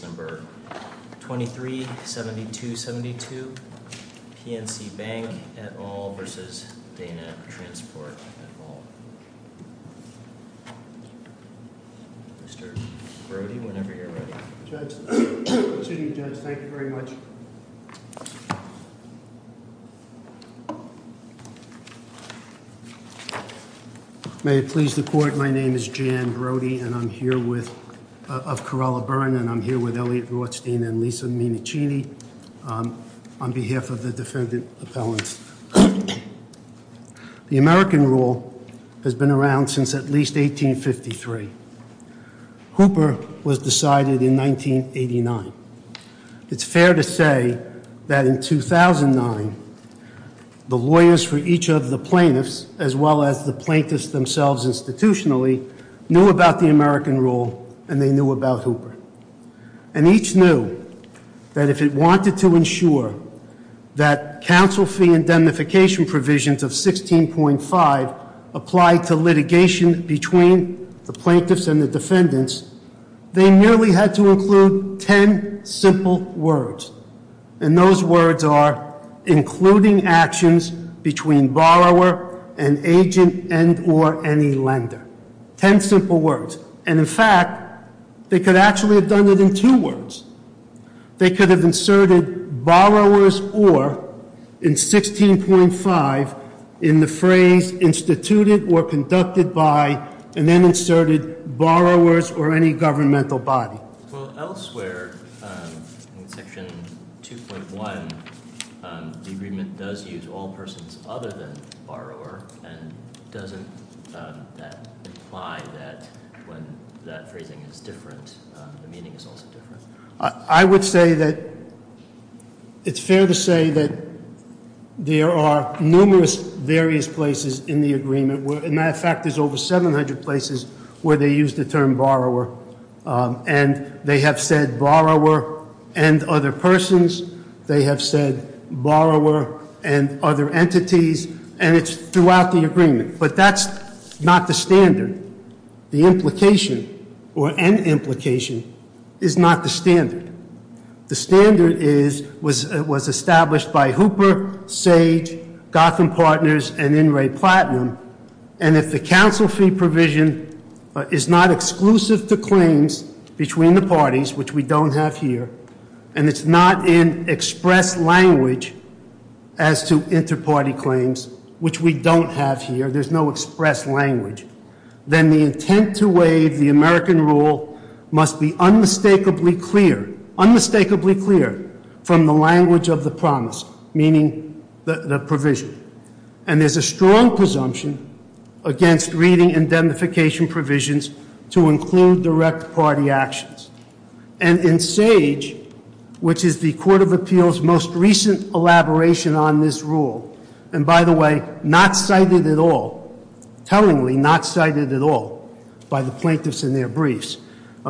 23-7272 PNC Bank, National Association v. Dana Transport, Inc. Mr. Brody, whenever you're ready. Excuse me, Judge. Thank you very much. May it please the court, my name is Jan Brody of Corolla Burn and I'm here with Elliot Rothstein and Lisa Minichini on behalf of the defendant appellants. The American rule has been around since at least 1853. Hooper was decided in 1989. It's fair to say that in 2009, the lawyers for each of the plaintiffs, as well as the plaintiffs themselves institutionally, knew about the American rule and they knew about Hooper. And each knew that if it wanted to ensure that council fee indemnification provisions of 16.5 applied to litigation between the plaintiffs and the defendants, they nearly had to include ten simple words. And those words are including actions between borrower and agent and or any lender. Ten simple words. And in fact, they could actually have done it in two words. They could have inserted borrowers or in 16.5 in the phrase instituted or any governmental body. Well, elsewhere in section 2.1, the agreement does use all persons other than borrower. And doesn't that imply that when that phrasing is different, the meaning is also different? I would say that it's fair to say that there are numerous various places in the agreement. In fact, there's over 700 places where they use the term borrower. And they have said borrower and other persons. They have said borrower and other entities. And it's throughout the agreement. But that's not the standard. The implication or an implication is not the standard. The standard is, was established by Hooper, Sage, Gotham Partners, and In Ray Platinum. And if the council fee provision is not exclusive to claims between the parties, which we don't have here. And it's not in express language as to inter-party claims, which we don't have here. There's no express language. Then the intent to waive the American rule must be unmistakably clear. Unmistakably clear from the language of the promise, meaning the provision. And there's a strong presumption against reading indemnification provisions to include direct party actions. And in Sage, which is the Court of Appeals' most recent elaboration on this rule. And by the way, not cited at all, tellingly not cited at all by the plaintiffs in their briefs.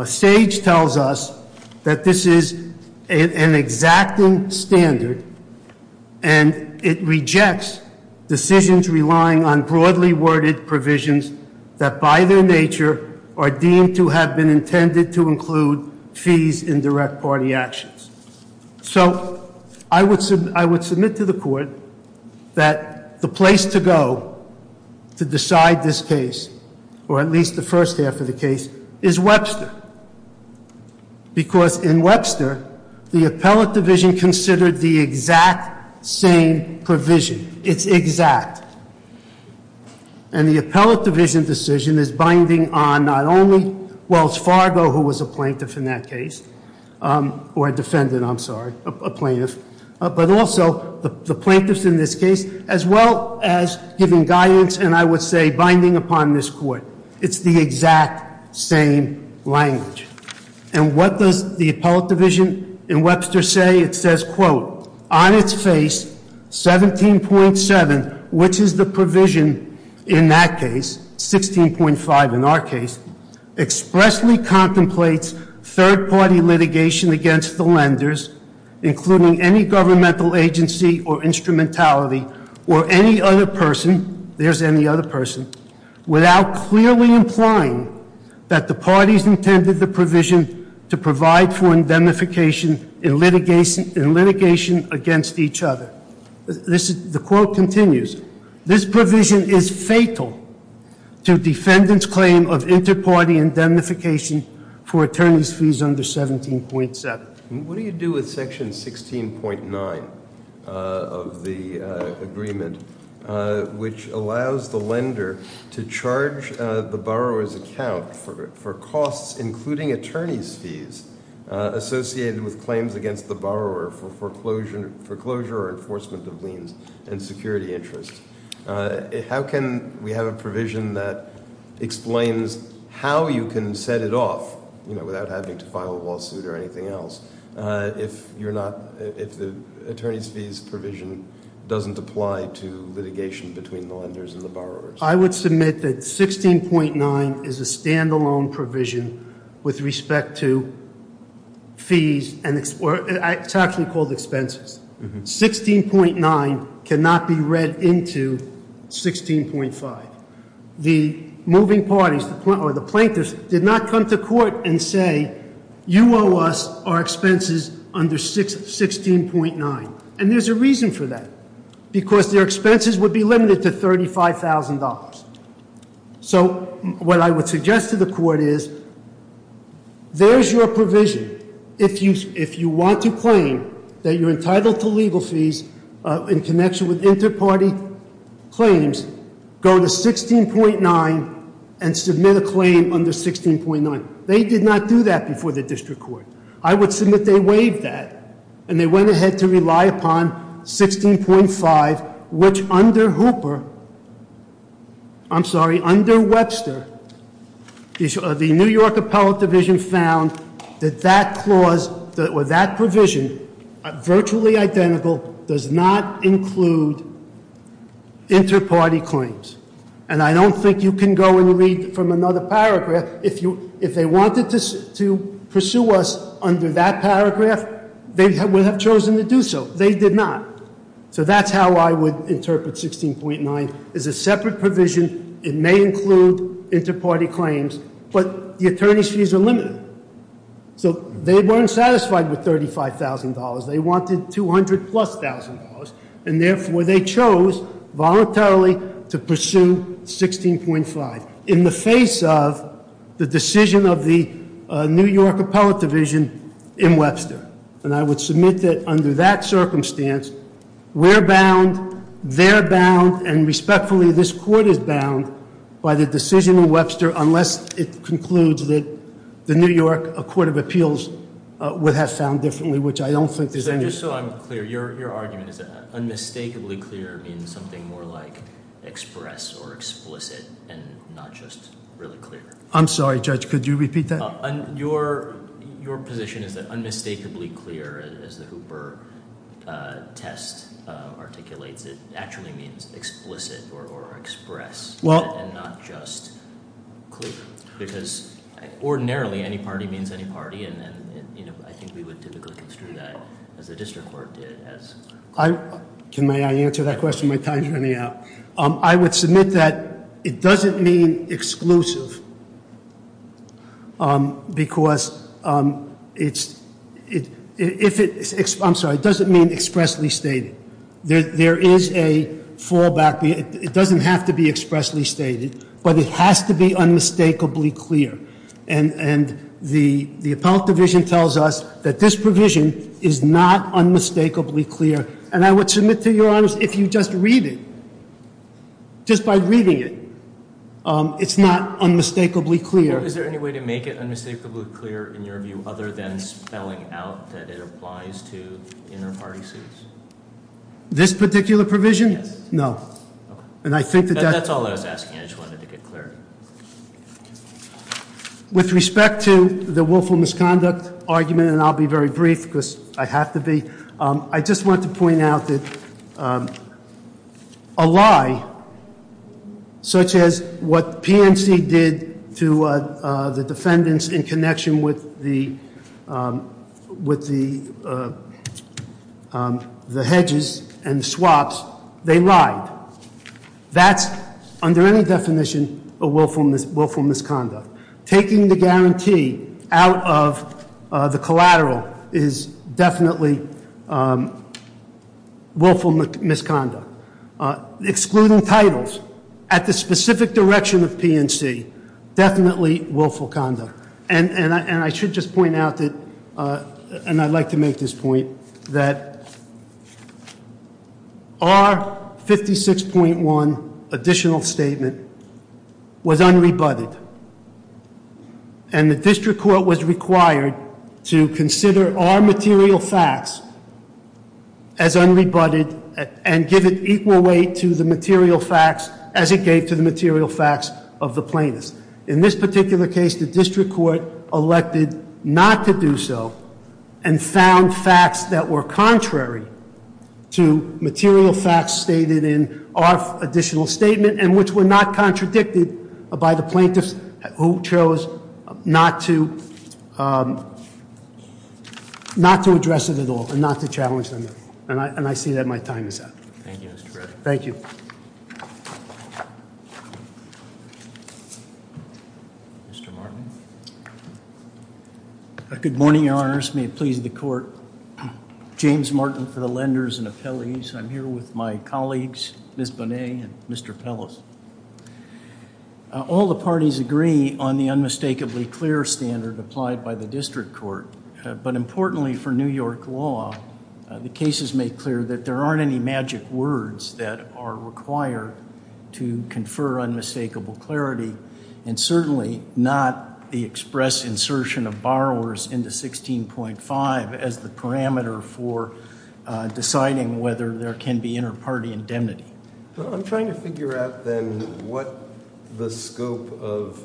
Sage tells us that this is an exacting standard. And it rejects decisions relying on broadly worded provisions that by their nature are deemed to have been intended to include fees in direct party actions. So I would submit to the court that the place to go to decide this case, or at least the first half of the case, is Webster. Because in Webster, the appellate division considered the exact same provision. It's exact. And the appellate division decision is binding on not only Wells Fargo, who was a plaintiff in that case, or a defendant, I'm sorry, a plaintiff. But also the plaintiffs in this case, as well as giving guidance, and I would say binding upon this court. It's the exact same language. And what does the appellate division in Webster say? It says, quote, on its face, 17.7, which is the provision in that case, 16.5 in our case, expressly contemplates third party litigation against the lenders, including any governmental agency or instrumentality or any other person, there's any other person, without clearly implying that the parties intended the provision to provide for indemnification in litigation against each other. The quote continues. This provision is fatal to defendant's claim of inter-party indemnification for attorney's fees under 17.7. What do you do with section 16.9 of the agreement, which allows the lender to charge the borrower's account for costs, including attorney's fees, associated with claims against the borrower for foreclosure or enforcement of liens and security interests? How can we have a provision that explains how you can set it off, without having to file a lawsuit or anything else, if the attorney's fees provision doesn't apply to litigation between the lenders and the borrowers? I would submit that 16.9 is a standalone provision with respect to fees, and it's actually called expenses. 16.9 cannot be read into 16.5. The moving parties, or the plaintiffs, did not come to court and say, you owe us our expenses under 16.9. And there's a reason for that, because their expenses would be limited to $35,000. So what I would suggest to the court is, there's your provision. If you want to claim that you're entitled to legal fees in connection with inter-party claims, go to 16.9 and submit a claim under 16.9. They did not do that before the district court. I would submit they waived that. And they went ahead to rely upon 16.5, which under Hooper, I'm sorry, under Webster, the New York Appellate Division found that that provision, virtually identical, does not include inter-party claims. And I don't think you can go and read from another paragraph. If they wanted to pursue us under that paragraph, they would have chosen to do so. They did not. So that's how I would interpret 16.9. It's a separate provision. It may include inter-party claims. But the attorney's fees are limited. So they weren't satisfied with $35,000. They wanted $200,000-plus. And therefore, they chose voluntarily to pursue 16.5. In the face of the decision of the New York Appellate Division in Webster. And I would submit that under that circumstance, we're bound, they're bound, and respectfully, this court is bound by the decision in Webster unless it concludes that the New York Court of Appeals would have found differently, which I don't think there's any- Just so I'm clear, your argument is that unmistakably clear means something more like express or explicit and not just really clear. I'm sorry, Judge, could you repeat that? Your position is that unmistakably clear, as the Hooper test articulates it, actually means explicit or express and not just clear. Because ordinarily, any party means any party. And I think we would typically construe that as the district court did. May I answer that question? My time's running out. I would submit that it doesn't mean exclusive because it's- I'm sorry, it doesn't mean expressly stated. There is a fallback. It doesn't have to be expressly stated. But it has to be unmistakably clear. And the appellate division tells us that this provision is not unmistakably clear. And I would submit to your honors, if you just read it, just by reading it, it's not unmistakably clear. Is there any way to make it unmistakably clear in your view other than spelling out that it applies to inner party suits? This particular provision? Yes. No. That's all I was asking. I just wanted to get clarity. With respect to the willful misconduct argument, and I'll be very brief because I have to be, I just want to point out that a lie such as what PNC did to the defendants in connection with the hedges and swaps, they lied. That's, under any definition, a willful misconduct. Taking the guarantee out of the collateral is definitely willful misconduct. Excluding titles at the specific direction of PNC, definitely willful conduct. And I should just point out that, and I'd like to make this point, that our 56.1 additional statement was unrebutted. And the district court was required to consider our material facts as unrebutted and give an equal weight to the material facts as it gave to the material facts of the plaintiffs. In this particular case, the district court elected not to do so and found facts that were contrary to material facts stated in our additional statement. And which were not contradicted by the plaintiffs who chose not to address it at all and not to challenge them. And I see that my time is up. Thank you, Mr. Brett. Thank you. Mr. Martin. Good morning, Your Honors. May it please the court. James Martin for the lenders and appellees. I'm here with my colleagues, Ms. Bonet and Mr. Pellis. All the parties agree on the unmistakably clear standard applied by the district court. But importantly for New York law, the cases make clear that there aren't any magic words that are required to confer unmistakable clarity. And certainly not the express insertion of borrowers into 16.5 as the parameter for deciding whether there can be inter-party indemnity. I'm trying to figure out then what the scope of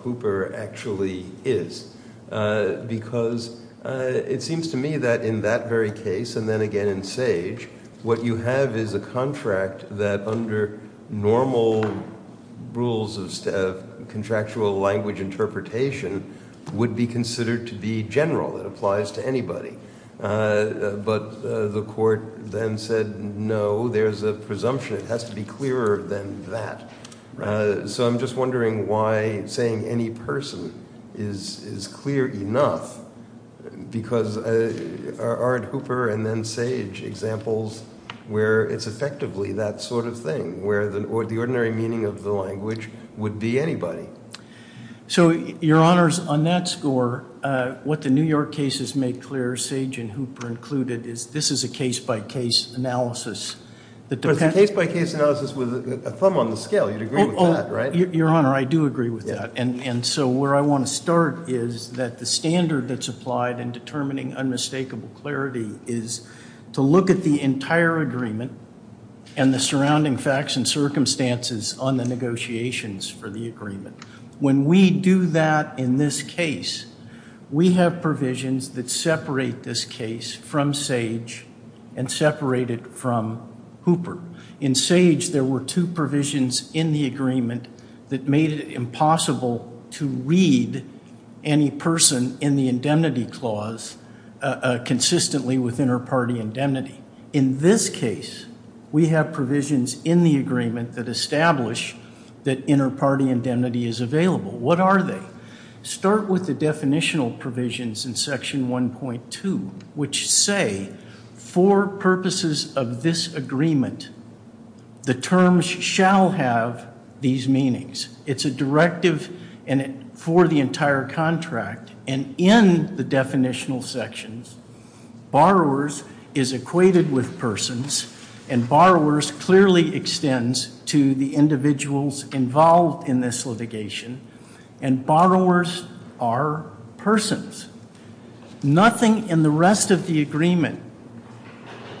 Hooper actually is. Because it seems to me that in that very case, and then again in Sage, what you have is a contract that under normal rules of contractual language interpretation would be considered to be general. It applies to anybody. But the court then said, no, there's a presumption. It has to be clearer than that. So I'm just wondering why saying any person is clear enough, because our Hooper and then Sage examples where it's effectively that sort of thing, where the ordinary meaning of the language would be anybody. So, Your Honors, on that score, what the New York cases make clear, Sage and Hooper included, is this is a case by case analysis. Case by case analysis with a thumb on the scale. You'd agree with that, right? Your Honor, I do agree with that. And so where I want to start is that the standard that's applied in determining unmistakable clarity is to look at the entire agreement and the surrounding facts and circumstances on the negotiations for the agreement. When we do that in this case, we have provisions that separate this case from Sage and separate it from Hooper. In Sage, there were two provisions in the agreement that made it impossible to read any person in the indemnity clause consistently within her party indemnity. In this case, we have provisions in the agreement that establish that inner party indemnity is available. What are they? Start with the definitional provisions in section 1.2, which say for purposes of this agreement, the terms shall have these meanings. It's a directive for the entire contract. And in the definitional sections, borrowers is equated with persons and borrowers clearly extends to the individuals involved in this litigation. And borrowers are persons. Nothing in the rest of the agreement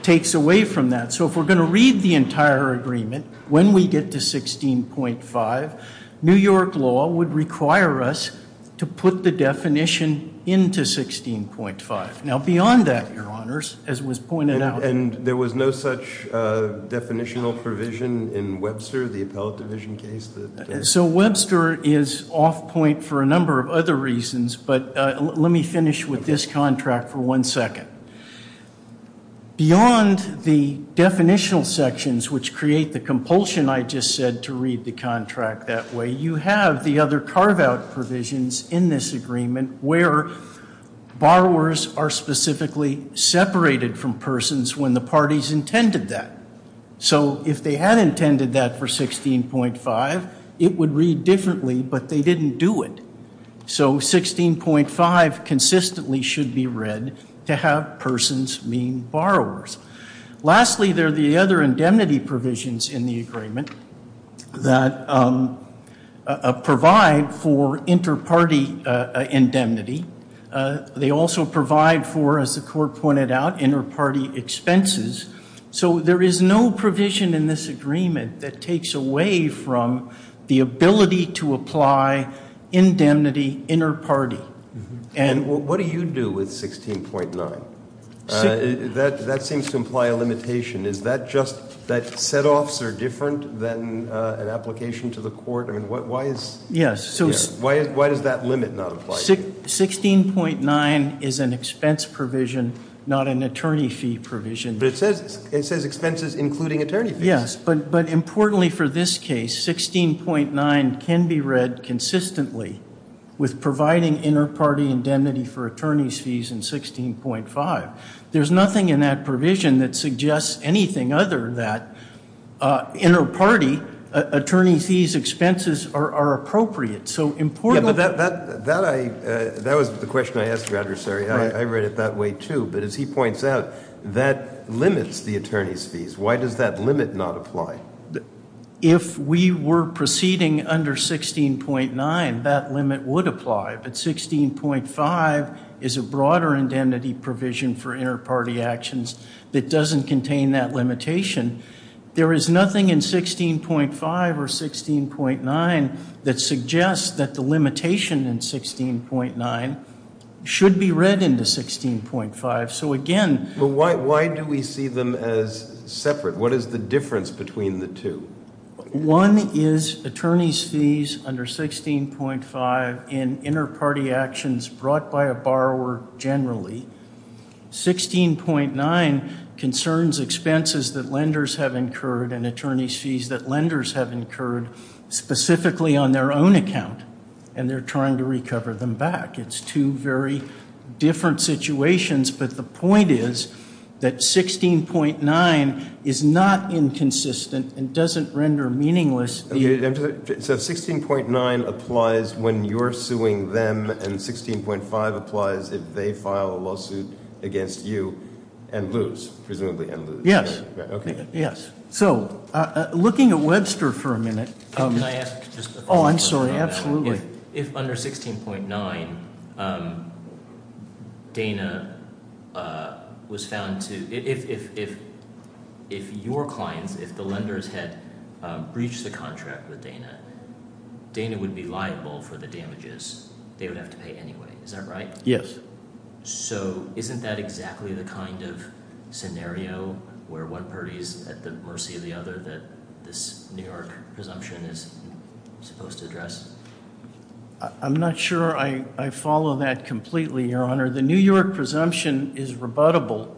takes away from that. So if we're going to read the entire agreement, when we get to 16.5, New York law would require us to put the definition into 16.5. Now, beyond that, your honors, as was pointed out. And there was no such definitional provision in Webster, the appellate division case? So Webster is off point for a number of other reasons, but let me finish with this contract for one second. Beyond the definitional sections, which create the compulsion I just said to read the contract that way, you have the other carve out provisions in this agreement where borrowers are specifically separated from persons when the parties intended that. So if they had intended that for 16.5, it would read differently, but they didn't do it. So 16.5 consistently should be read to have persons mean borrowers. Lastly, there are the other indemnity provisions in the agreement that provide for inter-party indemnity. They also provide for, as the court pointed out, inter-party expenses. So there is no provision in this agreement that takes away from the ability to apply indemnity inter-party. And what do you do with 16.9? That seems to imply a limitation. Is that just that set-offs are different than an application to the court? I mean, why does that limit not apply? 16.9 is an expense provision, not an attorney fee provision. But it says expenses including attorney fees. Yes, but importantly for this case, 16.9 can be read consistently with providing inter-party indemnity for attorney's fees in 16.5. There's nothing in that provision that suggests anything other than that inter-party attorney fees expenses are appropriate. That was the question I asked your adversary. I read it that way, too. But as he points out, that limits the attorney's fees. Why does that limit not apply? If we were proceeding under 16.9, that limit would apply. But 16.5 is a broader indemnity provision for inter-party actions that doesn't contain that limitation. There is nothing in 16.5 or 16.9 that suggests that the limitation in 16.9 should be read into 16.5. So, again... But why do we see them as separate? What is the difference between the two? One is attorney's fees under 16.5 in inter-party actions brought by a borrower generally. 16.9 concerns expenses that lenders have incurred and attorney's fees that lenders have incurred specifically on their own account. And they're trying to recover them back. It's two very different situations. But the point is that 16.9 is not inconsistent and doesn't render meaningless... So, 16.9 applies when you're suing them and 16.5 applies if they file a lawsuit against you and lose, presumably, and lose. So, looking at Webster for a minute... Can I ask just a quick question on that? Oh, I'm sorry. Absolutely. If under 16.9, Dana was found to... If your clients, if the lenders had breached the contract with Dana, Dana would be liable for the damages they would have to pay anyway. Is that right? Yes. So, isn't that exactly the kind of scenario where one party is at the mercy of the other that this New York presumption is supposed to address? I'm not sure I follow that completely, Your Honor. The New York presumption is rebuttable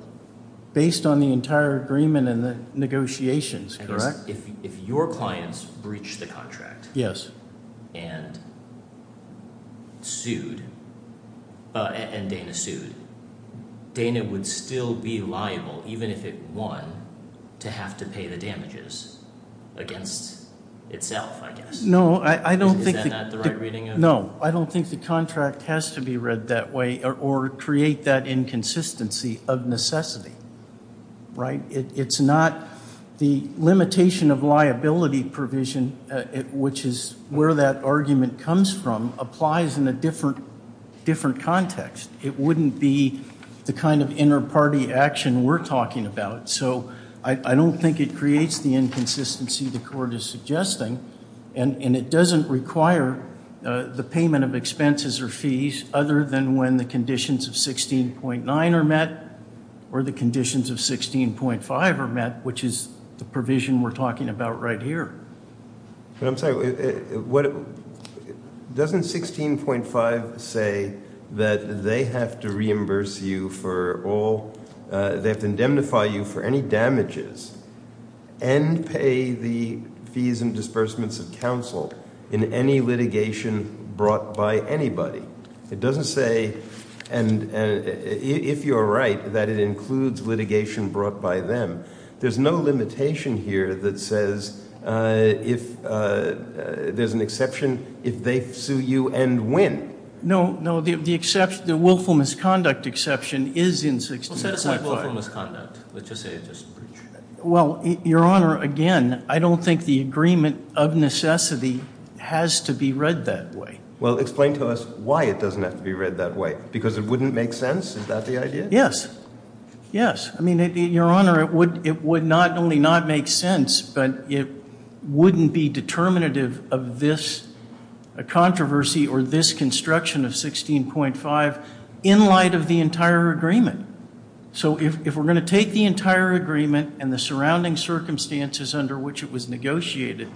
based on the entire agreement and the negotiations, correct? If your clients breached the contract and sued, and Dana sued, Dana would still be liable, even if it won, to have to pay the damages against itself, I guess. No, I don't think... Is that not the right reading? No, I don't think the contract has to be read that way or create that inconsistency of necessity, right? It's not... The limitation of liability provision, which is where that argument comes from, applies in a different context. It wouldn't be the kind of inner party action we're talking about. So, I don't think it creates the inconsistency the court is suggesting, and it doesn't require the payment of expenses or fees other than when the conditions of 16.9 are met or the conditions of 16.5 are met, which is the provision we're talking about right here. But I'm sorry, doesn't 16.5 say that they have to reimburse you for all... They have to indemnify you for any damages and pay the fees and disbursements of counsel in any litigation brought by anybody? It doesn't say, and if you're right, that it includes litigation brought by them. There's no limitation here that says there's an exception if they sue you and when. No, no, the willful misconduct exception is in 16.5. Well, set aside willful misconduct. Let's just say it's just breach. Well, Your Honor, again, I don't think the agreement of necessity has to be read that way. Well, explain to us why it doesn't have to be read that way. Because it wouldn't make sense? Is that the idea? Yes, yes. I mean, Your Honor, it would not only not make sense, but it wouldn't be determinative of this controversy or this construction of 16.5 in light of the entire agreement. So if we're going to take the entire agreement and the surrounding circumstances under which it was negotiated,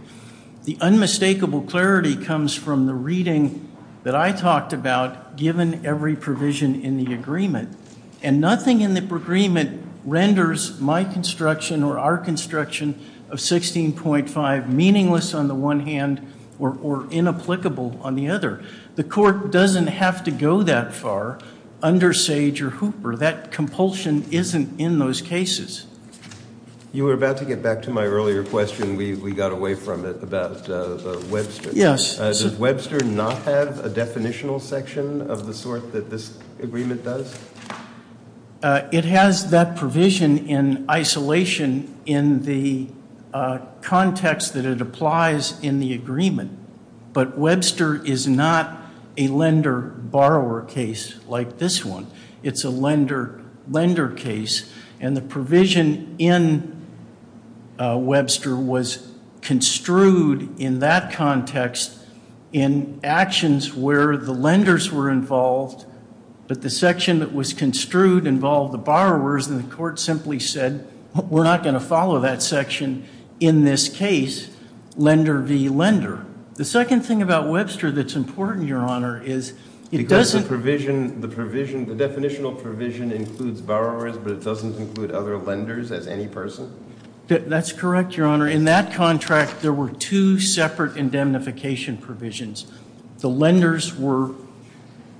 the unmistakable clarity comes from the reading that I talked about given every provision in the agreement. And nothing in the agreement renders my construction or our construction of 16.5 meaningless on the one hand or inapplicable on the other. The court doesn't have to go that far under Sage or Hooper. That compulsion isn't in those cases. You were about to get back to my earlier question. We got away from it about Webster. Does Webster not have a definitional section of the sort that this agreement does? It has that provision in isolation in the context that it applies in the agreement. But Webster is not a lender-borrower case like this one. It's a lender-lender case, and the provision in Webster was construed in that context in actions where the lenders were involved, but the section that was construed involved the borrowers, and the court simply said, we're not going to follow that section in this case, lender v. lender. The second thing about Webster that's important, Your Honor, is it doesn't- The definitional provision includes borrowers, but it doesn't include other lenders as any person? That's correct, Your Honor. In that contract, there were two separate indemnification provisions. The lenders were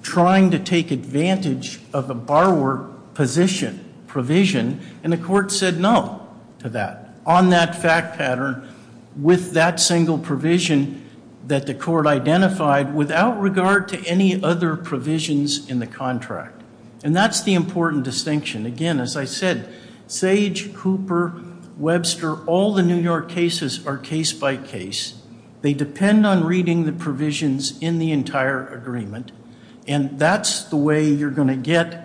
trying to take advantage of the borrower position provision, and the court said no to that on that fact pattern with that single provision that the court identified without regard to any other provisions in the contract, and that's the important distinction. Again, as I said, Sage, Cooper, Webster, all the New York cases are case-by-case. They depend on reading the provisions in the entire agreement, and that's the way you're going to get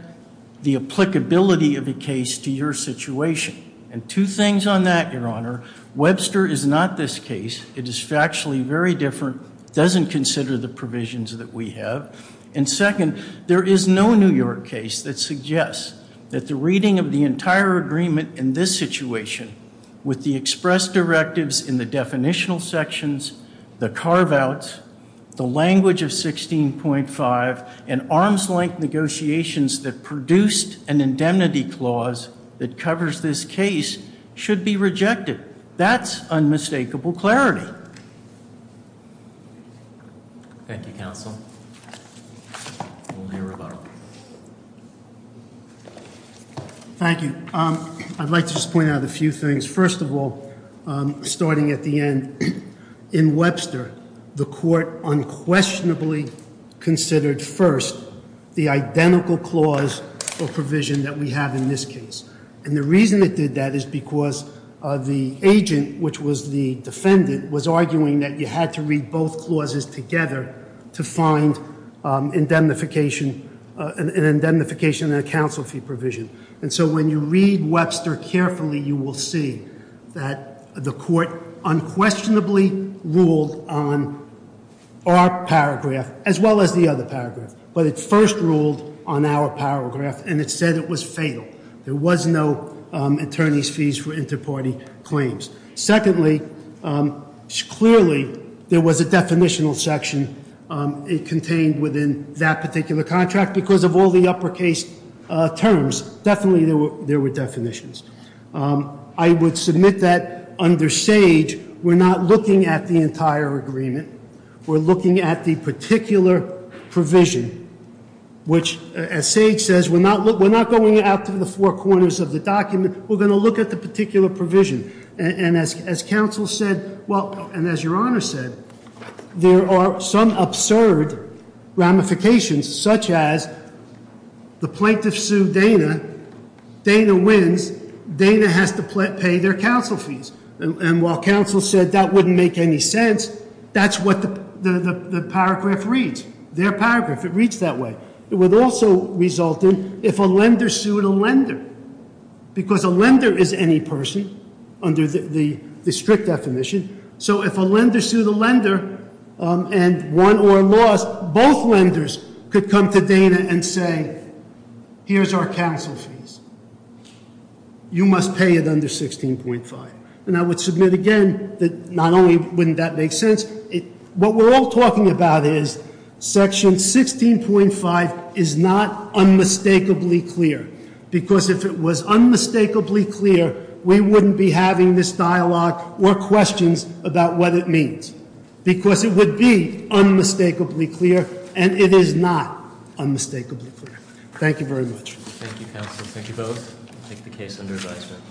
the applicability of a case to your situation, and two things on that, Your Honor. Webster is not this case. It is factually very different, doesn't consider the provisions that we have, and second, there is no New York case that suggests that the reading of the entire agreement in this situation with the express directives in the definitional sections, the carve-outs, the language of 16.5, and arm's-length negotiations that produced an indemnity clause that covers this case should be rejected. That's unmistakable clarity. Thank you, counsel. Thank you. I'd like to just point out a few things. First of all, starting at the end, in Webster, the court unquestionably considered first the identical clause or provision that we have in this case, and the reason it did that is because the agent, which was the defendant, was arguing that you had to read both clauses together to find an indemnification and a counsel fee provision, and so when you read Webster carefully, you will see that the court unquestionably ruled on our paragraph as well as the other paragraph, but it first ruled on our paragraph, and it said it was fatal. There was no attorney's fees for inter-party claims. Secondly, clearly there was a definitional section contained within that particular contract because of all the uppercase terms, definitely there were definitions. I would submit that under Sage, we're not looking at the entire agreement. We're looking at the particular provision, which, as Sage says, we're not going out to the four corners of the document. We're going to look at the particular provision, and as counsel said, and as your honor said, there are some absurd ramifications, such as the plaintiff sued Dana. Dana wins. Dana has to pay their counsel fees, and while counsel said that wouldn't make any sense, that's what the paragraph reads, their paragraph. It reads that way. It would also result in if a lender sued a lender because a lender is any person under the strict definition, so if a lender sued a lender and won or lost, both lenders could come to Dana and say, here's our counsel fees. You must pay it under 16.5. And I would submit again that not only wouldn't that make sense, what we're all talking about is section 16.5 is not unmistakably clear. Because if it was unmistakably clear, we wouldn't be having this dialogue or questions about what it means. Because it would be unmistakably clear, and it is not unmistakably clear. Thank you very much. Thank you, counsel. Thank you both. I take the case under advisement.